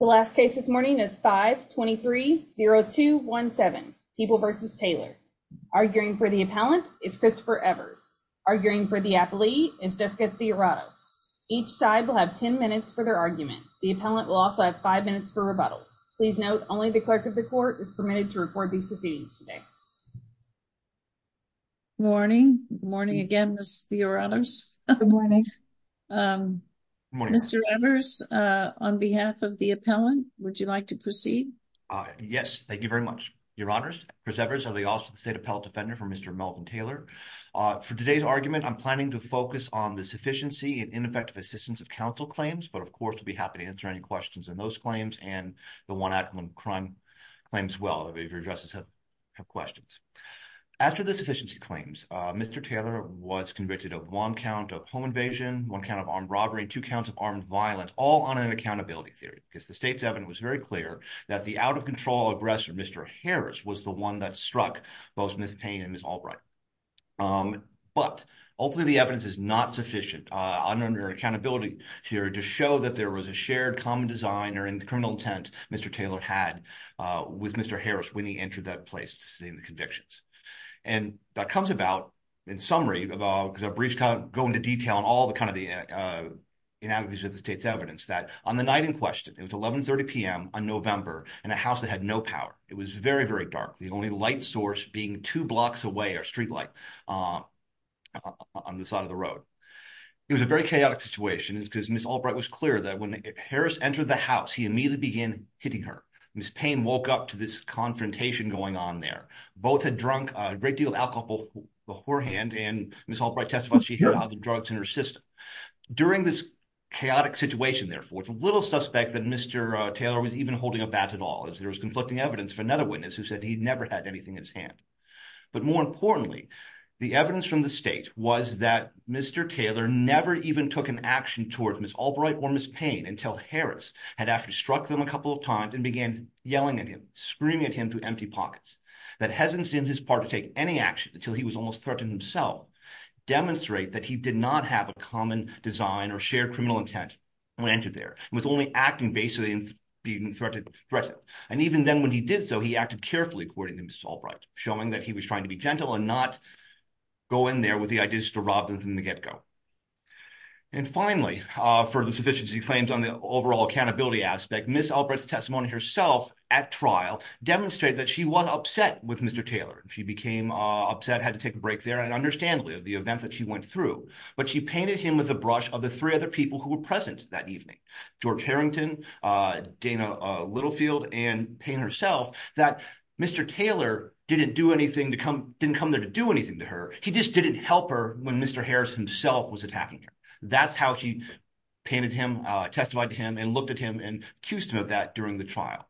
The last case this morning is 5-23-0217, People v. Taylor. Arguing for the appellant is Christopher Evers. Arguing for the athlete is Jessica Theoratos. Each side will have 10 minutes for their argument. The appellant will also have five minutes for rebuttal. Please note only the clerk of the court is permitted to record these proceedings today. Good morning. Good morning again, Ms. Theoratos. Good morning. Good morning, Mr. Evers. On behalf of the appellant, would you like to proceed? Yes, thank you very much. Your Honors, Chris Evers of the Austin State Appellate Defender for Mr. Melvin Taylor. For today's argument, I'm planning to focus on the sufficiency and ineffective assistance of counsel claims, but of course, I'll be happy to answer any questions on those claims and the one-act crime claims as well, if your addresses have questions. After the sufficiency claims, Mr. Taylor was convicted of one count of home invasion, one count of armed robbery, two counts of armed violence, all under an accountability theory, because the state's evidence was very clear that the out-of-control aggressor, Mr. Harris, was the one that struck both Ms. Payne and Ms. Albright. But ultimately, the evidence is not sufficient under an accountability theory to show that there was a shared common design or in the criminal intent Mr. Taylor had with Mr. Harris when he entered that place to sustain the In summary, because our briefs go into detail on all the kind of the inadequacies of the state's evidence, that on the night in question, it was 11 30 p.m. on November in a house that had no power. It was very, very dark, the only light source being two blocks away or streetlight on the side of the road. It was a very chaotic situation because Ms. Albright was clear that when Harris entered the house, he immediately began hitting her. Ms. Payne woke up to this confrontation going on there. Both had drunk a great deal of alcohol beforehand and Ms. Albright testified she had other drugs in her system. During this chaotic situation, therefore, it's a little suspect that Mr. Taylor was even holding a bat at all as there was conflicting evidence for another witness who said he'd never had anything in his hand. But more importantly, the evidence from the state was that Mr. Taylor never even took an action towards Ms. Albright or Ms. Payne until Harris had after struck them a couple of times and began yelling at him, screaming at him to empty he was almost threatening himself, demonstrate that he did not have a common design or shared criminal intent when he entered there. He was only acting based on being threatened. And even then when he did so, he acted carefully according to Ms. Albright, showing that he was trying to be gentle and not go in there with the idea to rob them from the get-go. And finally, for the sufficiency claims on the overall accountability aspect, Ms. Albright's testimony herself at trial demonstrated that she was upset with Mr. Taylor. She became upset, had to take a break there and understand the event that she went through. But she painted him with a brush of the three other people who were present that evening, George Harrington, Dana Littlefield, and Payne herself, that Mr. Taylor didn't do anything to come, didn't come there to do anything to her. He just didn't help her when Mr. Harris himself was attacking her. That's how she painted him, testified to him and looked at him and accused him of that during the trial.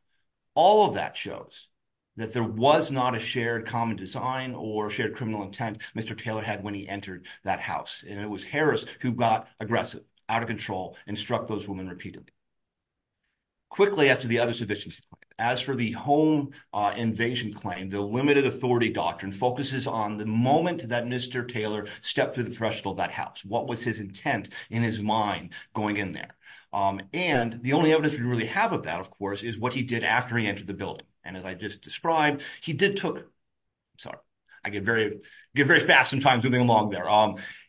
All of that shows that there was not a shared common design or shared criminal intent Mr. Taylor had when he entered that house. And it was Harris who got aggressive, out of control, and struck those women repeatedly. Quickly, as to the other sufficiency claims, as for the home invasion claim, the limited authority doctrine focuses on the moment that Mr. Taylor stepped through the threshold of that house. What was his intent in his mind going in there? And the only evidence we really have of that, of course, is what he did after he entered the building. And as I just described, he did took, sorry, I get very fast sometimes moving along there.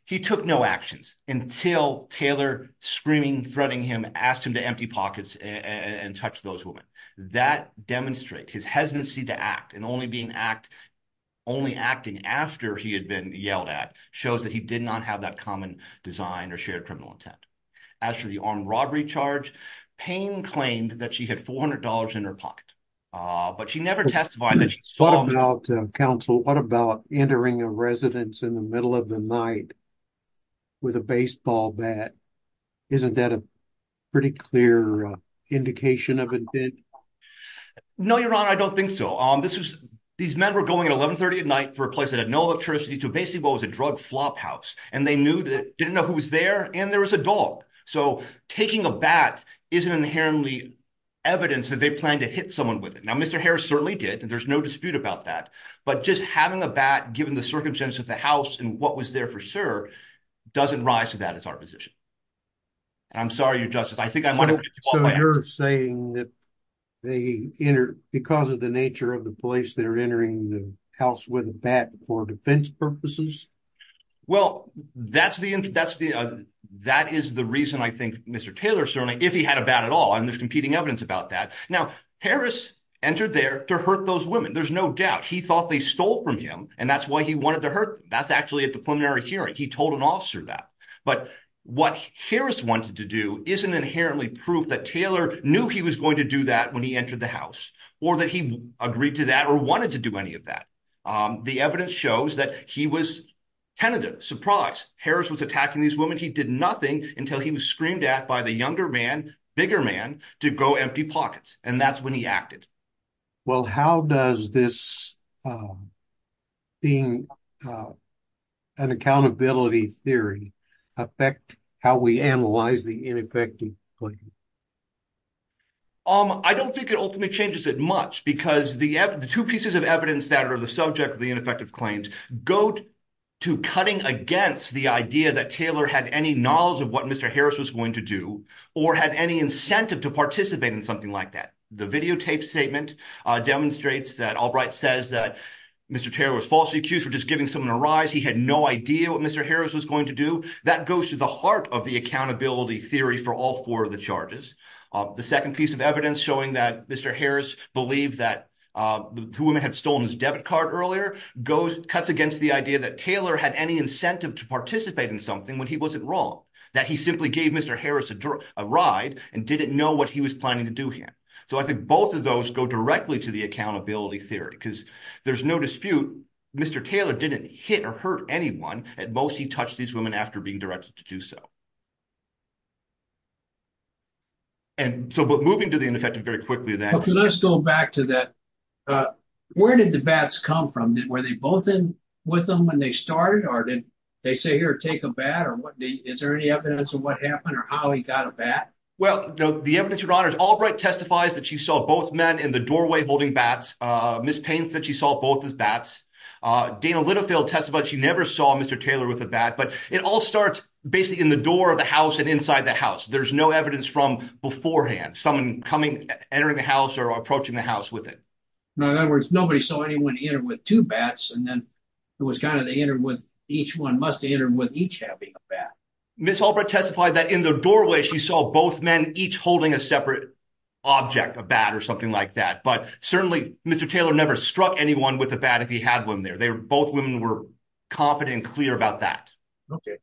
He took no actions until Taylor, screaming, threatening him, asked him to empty pockets and touch those women. That demonstrates his hesitancy to act and only being act, only acting after he had been yelled at, shows that he did not have that common design or shared criminal intent. As for the armed robbery charge, Payne claimed that she had $400 in her pocket, but she never testified that she saw him. What about, counsel, what about entering a residence in the middle of the night with a baseball bat? Isn't that a pretty clear indication of intent? No, Your Honor, I don't think so. This was, these men were going at 1130 at night for a place that had no electricity to basically what was a drug flophouse. And they knew that, didn't know who was there, and there was a bat is an inherently evidence that they planned to hit someone with it. Now, Mr. Harris certainly did, and there's no dispute about that. But just having a bat, given the circumstances of the house and what was there for sure, doesn't rise to that as our position. And I'm sorry, Your Justice, I think I might have. So you're saying that they enter because of the nature of the place they're entering the house with a bat for defense purposes? Well, that's the, that's the, that is the reason I think Mr. Taylor certainly, if he had a bat at all, and there's competing evidence about that. Now, Harris entered there to hurt those women. There's no doubt he thought they stole from him, and that's why he wanted to hurt them. That's actually at the preliminary hearing. He told an officer that. But what Harris wanted to do isn't inherently proof that Taylor knew he was going to do that when he entered the house, or that he agreed to that or wanted to do any of that. The evidence shows that he was tentative. Surprise, Harris was attacking these women. He did nothing until he was screamed at by the younger man, bigger man, to go empty pockets. And that's when he acted. Well, how does this being an accountability theory affect how we analyze the ineffective claim? I don't think it ultimately changes it much because the two pieces of evidence that are the subject of the ineffective claims go to cutting against the idea that Taylor had any knowledge of what Mr. Harris was going to do or had any incentive to participate in something like that. The videotape statement demonstrates that Albright says that Mr. Taylor was falsely accused for just giving someone a rise. He had no idea what Mr. Harris was going to do. That goes to the heart of the accountability theory for all four of the charges. The second piece of evidence showing that Mr. Harris believed that the women had stolen his debit card earlier goes cuts against the idea that Taylor had any incentive to participate in something when he wasn't wrong, that he simply gave Mr. Harris a ride and didn't know what he was planning to do here. So I think both of those go directly to the accountability theory because there's no dispute. Mr. Taylor didn't hit or hurt anyone. At most, he touched these women after being directed to do so. And so moving to the ineffective very quickly, then let's go back to that. Uh, where did the bats come from? Were they both in with them when they started? Or did they say, here, take a bat? Or what? Is there any evidence of what happened or how he got a bat? Well, the evidence, Your Honor, Albright testifies that she saw both men in the doorway holding bats. Uh, Ms. Payne said she saw both as bats. Uh, Dana Littlefield testified she never saw Mr. Taylor with a bat. But it all starts basically in the door of the house and inside the house. There's no evidence from beforehand, someone coming, entering the house or approaching the door. In other words, nobody saw anyone enter with two bats. And then it was kind of they entered with each one must enter with each having a bat. Ms. Albright testified that in the doorway, she saw both men, each holding a separate object, a bat or something like that. But certainly, Mr. Taylor never struck anyone with a bat if he had one there. They were both women were confident and clear about that. Okay.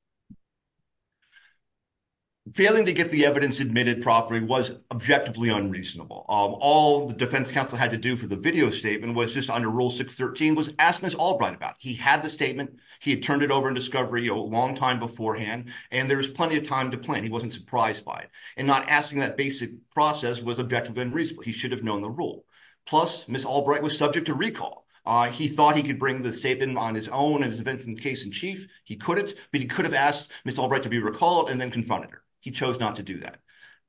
Failing to get the evidence admitted properly was objectively unreasonable. All the defense counsel had to do for the video statement was just under Rule 613 was asked Ms. Albright about. He had the statement. He had turned it over in discovery a long time beforehand, and there was plenty of time to plan. He wasn't surprised by it. And not asking that basic process was objectively unreasonable. He should have known the rule. Plus, Ms. Albright was subject to recall. He thought he could bring the statement on his own and his defense in case in chief. He couldn't, but he could have asked Ms. Albright to be recalled and then confronted her. He chose not to do that.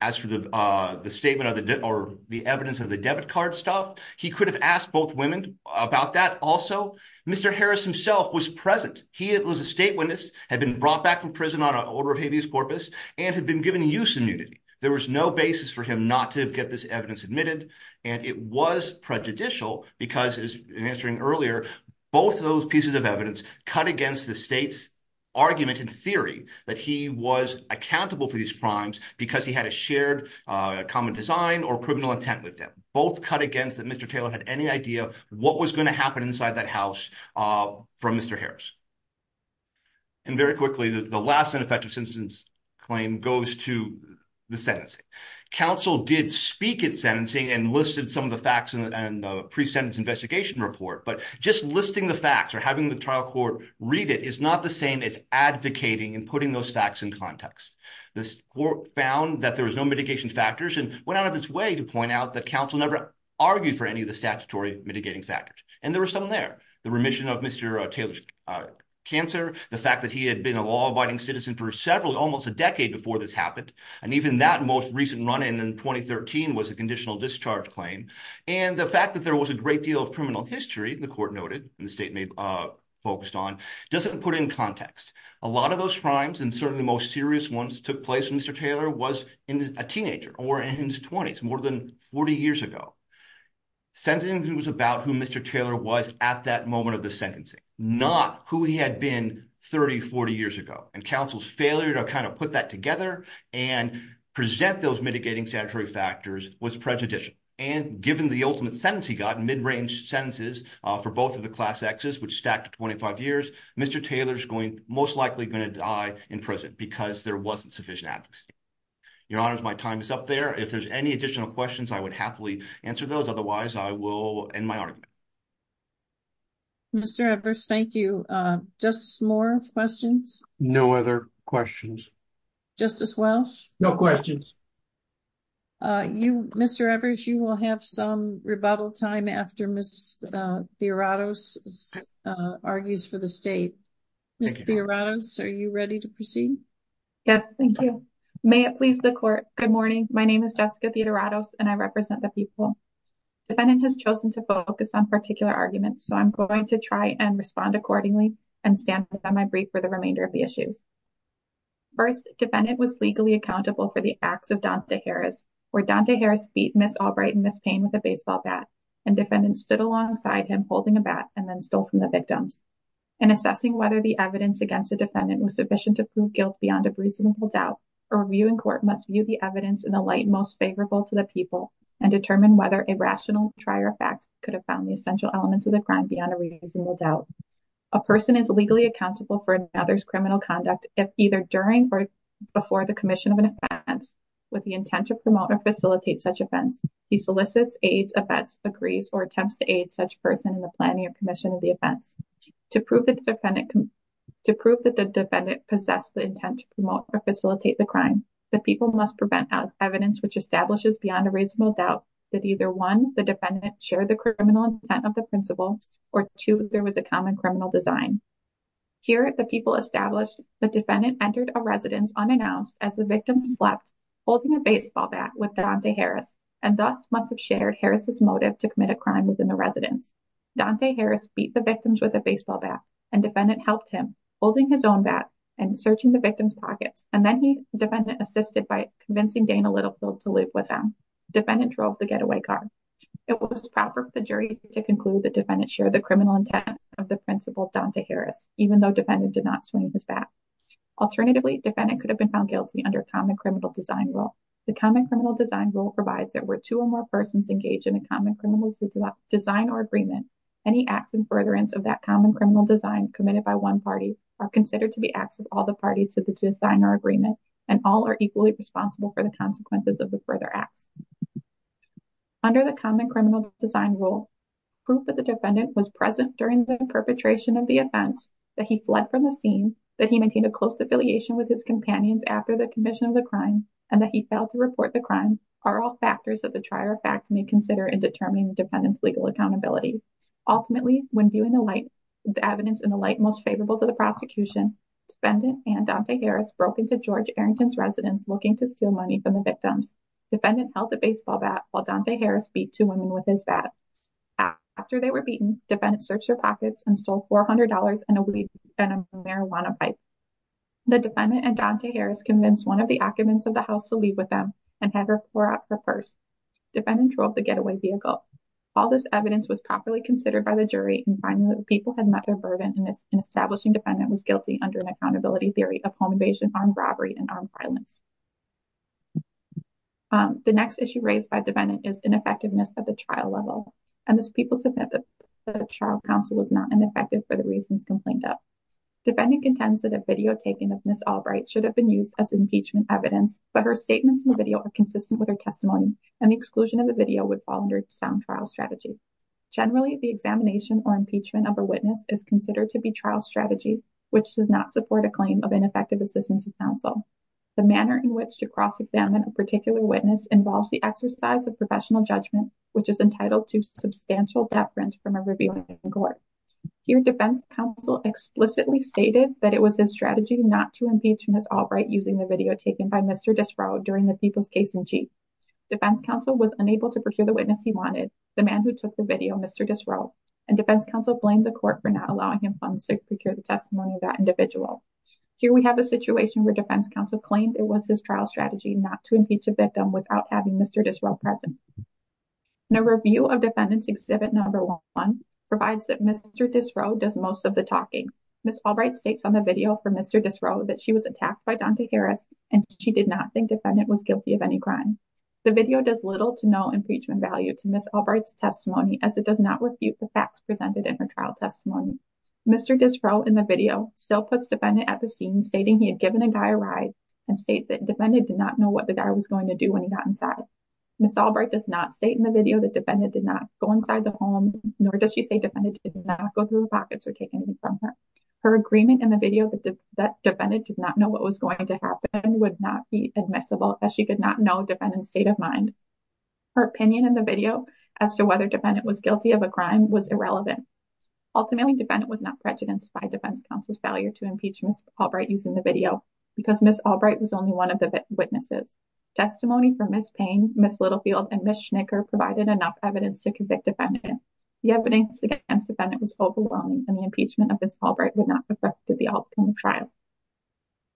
As for the statement or the evidence of the debit card stuff, he could have asked both women about that also. Mr. Harris himself was present. He was a state witness, had been brought back from prison on an order of habeas corpus, and had been given use immunity. There was no basis for him not to get this evidence admitted. And it was prejudicial because, as I was answering earlier, both those pieces of evidence cut against the state's argument and a shared common design or criminal intent with them. Both cut against that Mr. Taylor had any idea what was going to happen inside that house from Mr. Harris. And very quickly, the last ineffective sentence claim goes to the sentencing. Counsel did speak at sentencing and listed some of the facts in the pre-sentence investigation report, but just listing the facts or having the trial court read it is not the same as advocating and putting those facts in context. The court found that there was no mitigation factors and went out of its way to point out that counsel never argued for any of the statutory mitigating factors. And there were some there. The remission of Mr. Taylor's cancer, the fact that he had been a law-abiding citizen for several, almost a decade before this happened, and even that most recent run-in in 2013 was a conditional discharge claim, and the fact that there was a great deal of criminal history, the court noted, and the statement focused on, doesn't put in context. A lot of those crimes, and certainly the most serious ones, took place when Mr. Taylor was a teenager or in his 20s, more than 40 years ago. Sentencing was about who Mr. Taylor was at that moment of the sentencing, not who he had been 30, 40 years ago. And counsel's failure to kind of put that together and present those mitigating statutory factors was prejudicial. And given the ultimate sentence he got, mid-range sentences for both of the class X's, which because there wasn't sufficient advocacy. Your Honor, my time is up there. If there's any additional questions, I would happily answer those. Otherwise, I will end my argument. Mr. Evers, thank you. Just more questions? No other questions. Justice Welch? No questions. Mr. Evers, you will have some rebuttal time after Ms. Theoratos argues for the state. Ms. Theoratos, are you ready to proceed? Yes, thank you. May it please the Court, good morning. My name is Jessica Theoratos, and I represent the people. Defendant has chosen to focus on particular arguments, so I'm going to try and respond accordingly and stand with them. I brief for the remainder of the issues. First, defendant was legally accountable for the acts of Dante Harris, where Dante Harris beat Ms. Albright and Ms. Payne with a baseball bat, and defendant stood alongside him holding a bat and then stole from the court. In assessing whether the evidence against the defendant was sufficient to prove guilt beyond a reasonable doubt, a review in court must view the evidence in the light most favorable to the people and determine whether a rational try or fact could have found the essential elements of the crime beyond a reasonable doubt. A person is legally accountable for another's criminal conduct if either during or before the commission of an offense. With the intent to promote or facilitate such offense, he solicits, aids, abets, agrees, or attempts to aid such person in the planning or commission of the offense. To prove that the defendant possessed the intent to promote or facilitate the crime, the people must present evidence which establishes beyond a reasonable doubt that either one, the defendant shared the criminal intent of the principal, or two, there was a common criminal design. Here, the people established the defendant entered a residence unannounced as the victim slept holding a baseball bat with Dante Harris and thus must have shared Harris' motive to commit a crime within the residence. Dante Harris beat the victims with a baseball bat and defendant helped him holding his own bat and searching the victim's pockets and then he, the defendant, assisted by convincing Dana Littlefield to leave with them. Defendant drove the getaway car. It was proper for the jury to conclude that defendant shared the criminal intent of the principal, Dante Harris, even though defendant did not swing his bat. Alternatively, defendant could have been found guilty under common criminal design rule. The common criminal design rule provides that where two or more persons engage in a common criminal design or agreement, any acts in furtherance of that common criminal design committed by one party are considered to be acts of all the parties of the design or agreement and all are equally responsible for the consequences of the further acts. Under the common criminal design rule, proof that the defendant was present during the perpetration of the offense, that he fled from the scene, that he maintained a close affiliation with his companions after the commission of the crime, and that he failed to report the crime are all factors that the trier of fact may consider in determining the defendant's legal accountability. Ultimately, when viewing the light, the evidence in the light most favorable to the prosecution, defendant and Dante Harris broke into George Arrington's residence looking to steal money from the victims. Defendant held the baseball bat while Dante Harris beat two women with his bat. After they were beaten, defendant searched their pockets and stole $400 and a weed and a marijuana pipe. The defendant and Dante Harris convinced one of the occupants of the house to pour out her purse. Defendant drove the getaway vehicle. All this evidence was properly considered by the jury in finding that the people had met their burden and this establishing defendant was guilty under an accountability theory of home invasion, armed robbery, and armed violence. The next issue raised by defendant is ineffectiveness at the trial level and this people submit that the trial counsel was not ineffective for the reasons complained of. Defendant contends that a videotaping of Ms. Albright should have been used as impeachment evidence but her statements in the video are consistent with her testimony and the exclusion of the video would fall under sound trial strategy. Generally, the examination or impeachment of a witness is considered to be trial strategy which does not support a claim of ineffective assistance of counsel. The manner in which to cross-examine a particular witness involves the exercise of professional judgment which is entitled to substantial deference from a reviewing court. Here, defense counsel explicitly stated that it was his strategy not to impeach Ms. Albright using the video taken by Mr. Disrow during the people's case-in-chief. Defense counsel was unable to procure the witness he wanted, the man who took the video Mr. Disrow, and defense counsel blamed the court for not allowing him funds to procure the testimony of that individual. Here we have a situation where defense counsel claimed it was his trial strategy not to impeach a victim without having Mr. Disrow present. A review of defendant's exhibit number one provides that Mr. Disrow does most of the talking. Ms. Albright states on the video for Mr. Disrow that she was attacked by defendants and the defendant was guilty of any crime. The video does little to no impeachment value to Ms. Albright's testimony as it does not refute the facts presented in her trial testimony. Mr. Disrow in the video still puts defendant at the scene stating he had given a guy a ride and state that defendant did not know what the guy was going to do when he got inside. Ms. Albright does not state in the video that defendant did not go inside the home nor does she say defendant did not go through the pockets or take anything from her. Her agreement in the video that defendant did not know what was going to happen would not be admissible as she could not know defendant's state of mind. Her opinion in the video as to whether defendant was guilty of a crime was irrelevant. Ultimately defendant was not prejudiced by defense counsel's failure to impeach Ms. Albright using the video because Ms. Albright was only one of the witnesses. Testimony from Ms. Payne, Ms. Littlefield and Ms. Schnicker provided enough evidence to convict defendant. The evidence against defendant was overwhelming and the impeachment of Ms. Albright would not affect the outcome trial.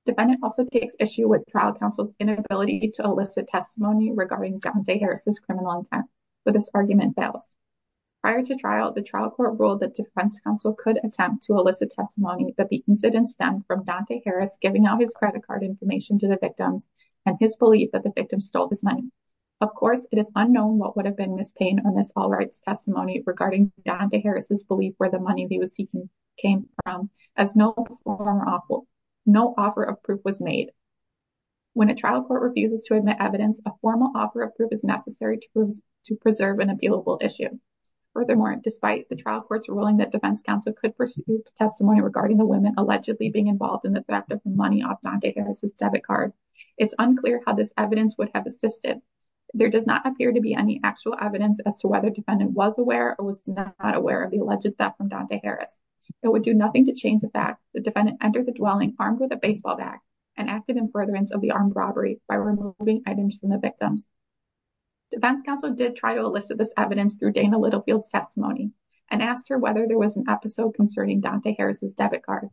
Defendant also takes issue with trial counsel's inability to elicit testimony regarding Dante Harris's criminal intent but this argument fails. Prior to trial the trial court ruled that defense counsel could attempt to elicit testimony that the incident stemmed from Dante Harris giving out his credit card information to the victims and his belief that the victim stole this money. Of course it is unknown what would have been Ms. Payne or Ms. Albright's testimony regarding Dante Harris's belief where the money they were seeking came from as no formal offer of proof was made. When a trial court refuses to admit evidence a formal offer of proof is necessary to to preserve an appealable issue. Furthermore despite the trial court's ruling that defense counsel could pursue testimony regarding the women allegedly being involved in the theft of money off Dante Harris's debit card it's unclear how this evidence would have assisted. There does not appear to be any actual evidence as to whether defendant was aware or was not aware of the alleged theft from Dante Harris. It would do nothing to change the fact the defendant entered the dwelling armed with a baseball bat and acted in furtherance of the armed robbery by removing items from the victims. Defense counsel did try to elicit this evidence through Dana Littlefield's testimony and asked her whether there was an episode concerning Dante Harris's debit card.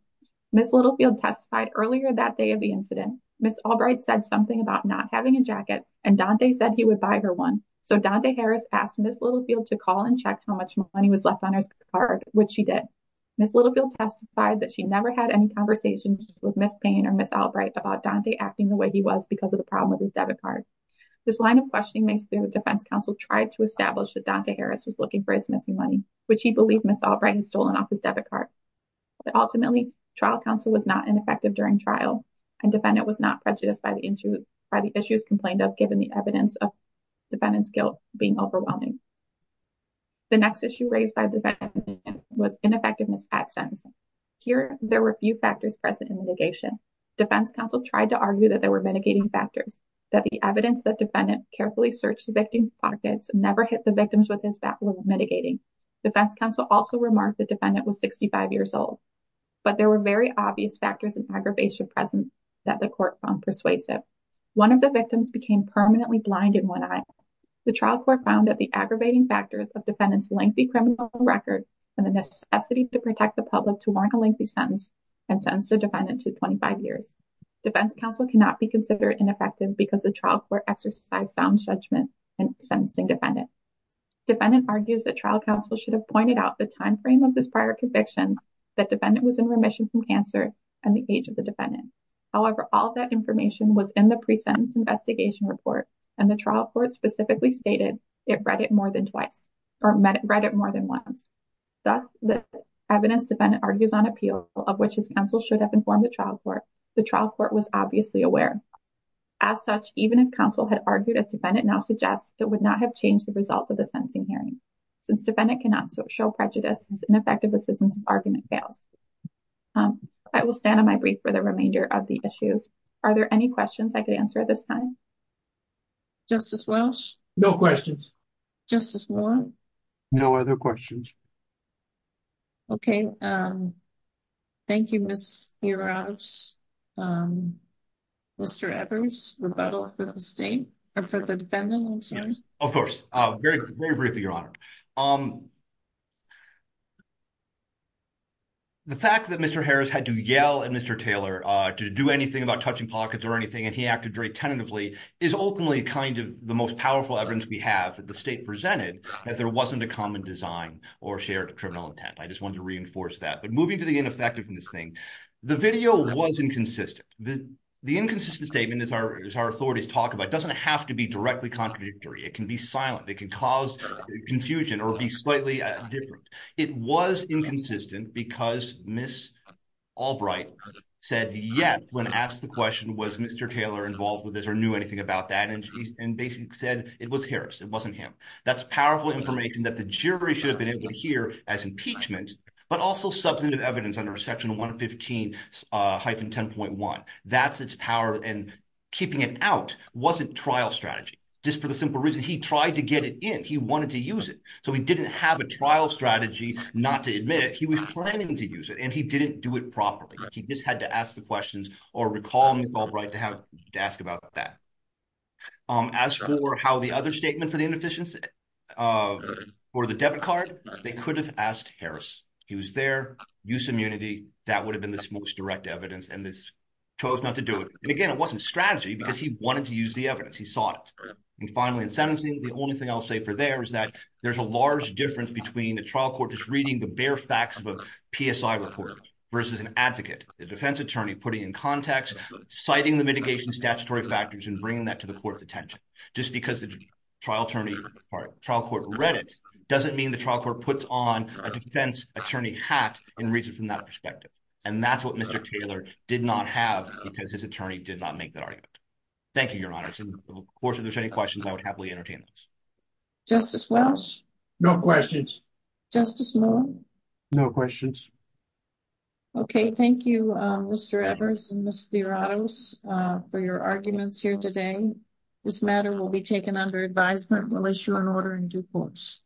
Ms. Littlefield testified earlier that day of the incident Ms. Albright said something about not having a jacket and Dante said he would buy her one so Dante Harris asked Ms. Littlefield to call and check how much money was left on her which she did. Ms. Littlefield testified that she never had any conversations with Ms. Payne or Ms. Albright about Dante acting the way he was because of the problem with his debit card. This line of questioning makes the defense counsel try to establish that Dante Harris was looking for his missing money which he believed Ms. Albright had stolen off his debit card but ultimately trial counsel was not ineffective during trial and defendant was not prejudiced by the issues complained of given the evidence of was ineffectiveness at sentencing. Here there were few factors present in litigation. Defense counsel tried to argue that there were mitigating factors that the evidence that defendant carefully searched the victim's pockets never hit the victims with his bat was mitigating. Defense counsel also remarked the defendant was 65 years old but there were very obvious factors and aggravation present that the court found persuasive. One of the victims became permanently blind in one eye. The trial court found that the necessity to protect the public to warrant a lengthy sentence and sentenced the defendant to 25 years. Defense counsel cannot be considered ineffective because the trial court exercised sound judgment in sentencing defendant. Defendant argues that trial counsel should have pointed out the time frame of this prior conviction that defendant was in remission from cancer and the age of the defendant. However, all that information was in the pre-sentence investigation report and the trial court specifically stated it read it more than twice or read it more than once. Thus the evidence defendant argues on appeal of which his counsel should have informed the trial court. The trial court was obviously aware. As such even if counsel had argued as defendant now suggests it would not have changed the result of the sentencing hearing since defendant cannot show prejudice as ineffective assistance of argument fails. I will stand on my brief for the remainder of the issues. Are there any questions I could answer at this time? Justice Walsh? No questions. Justice Warren? No other questions. Okay. Thank you, Ms. Hirons. Mr. Evers, rebuttal for the state, or for the defendant, I'm sorry. Of course. Very briefly, Your Honor. The fact that Mr. Harris had to yell at Mr. Taylor to do anything about touching pockets or anything, and he acted very tentatively, is ultimately kind of the most powerful evidence we have that the state presented that there wasn't a common design or shared criminal intent. I just wanted to reinforce that. But moving to the ineffectiveness thing, the video was inconsistent. The inconsistent statement, as our authorities talk about, doesn't have to be directly contradictory. It can be silent. It can cause confusion or be slightly different. It was inconsistent because Ms. Albright said, yes, when asked the question, was Mr. Taylor involved with this or knew anything about that, and basically said it was Harris. It wasn't him. That's powerful information that the jury should have been able to hear as impeachment, but also substantive evidence under Section 115-10.1. That's its power, and keeping it out wasn't trial strategy. Just for the simple reason he tried to get it in. He wanted to use it. So he didn't have a trial strategy not to admit it. He was planning to use it, and he didn't do it properly. He just had to ask the questions or recall Ms. Albright to ask about that. As for how the other statement for the inefficiency for the debit card, they could have asked Harris. He was there. Use immunity. That would have been the most direct evidence, and this chose not to do it. And again, it wasn't strategy because he wanted to use the evidence. He sought it. And finally, in sentencing, the only thing I'll say for there is that there's a large difference between a trial court just reading the bare facts of a PSI report versus an advocate, a defense attorney, putting in context, citing the mitigation statutory factors, and bringing that to the court's attention. Just because the trial attorney or trial court read it doesn't mean the trial court puts on a defense attorney hat and reads it from that perspective. And that's what Mr. Taylor did not have because his attorney did not make that argument. Thank you, Your Honor. Of course, if there's any questions, I would happily entertain those. Justice Welch? No questions. Justice Moore? No questions. Okay. Thank you, Mr. Evers and Ms. Lioratos for your arguments here today. This matter will be taken under advisement. We'll issue an order in due course.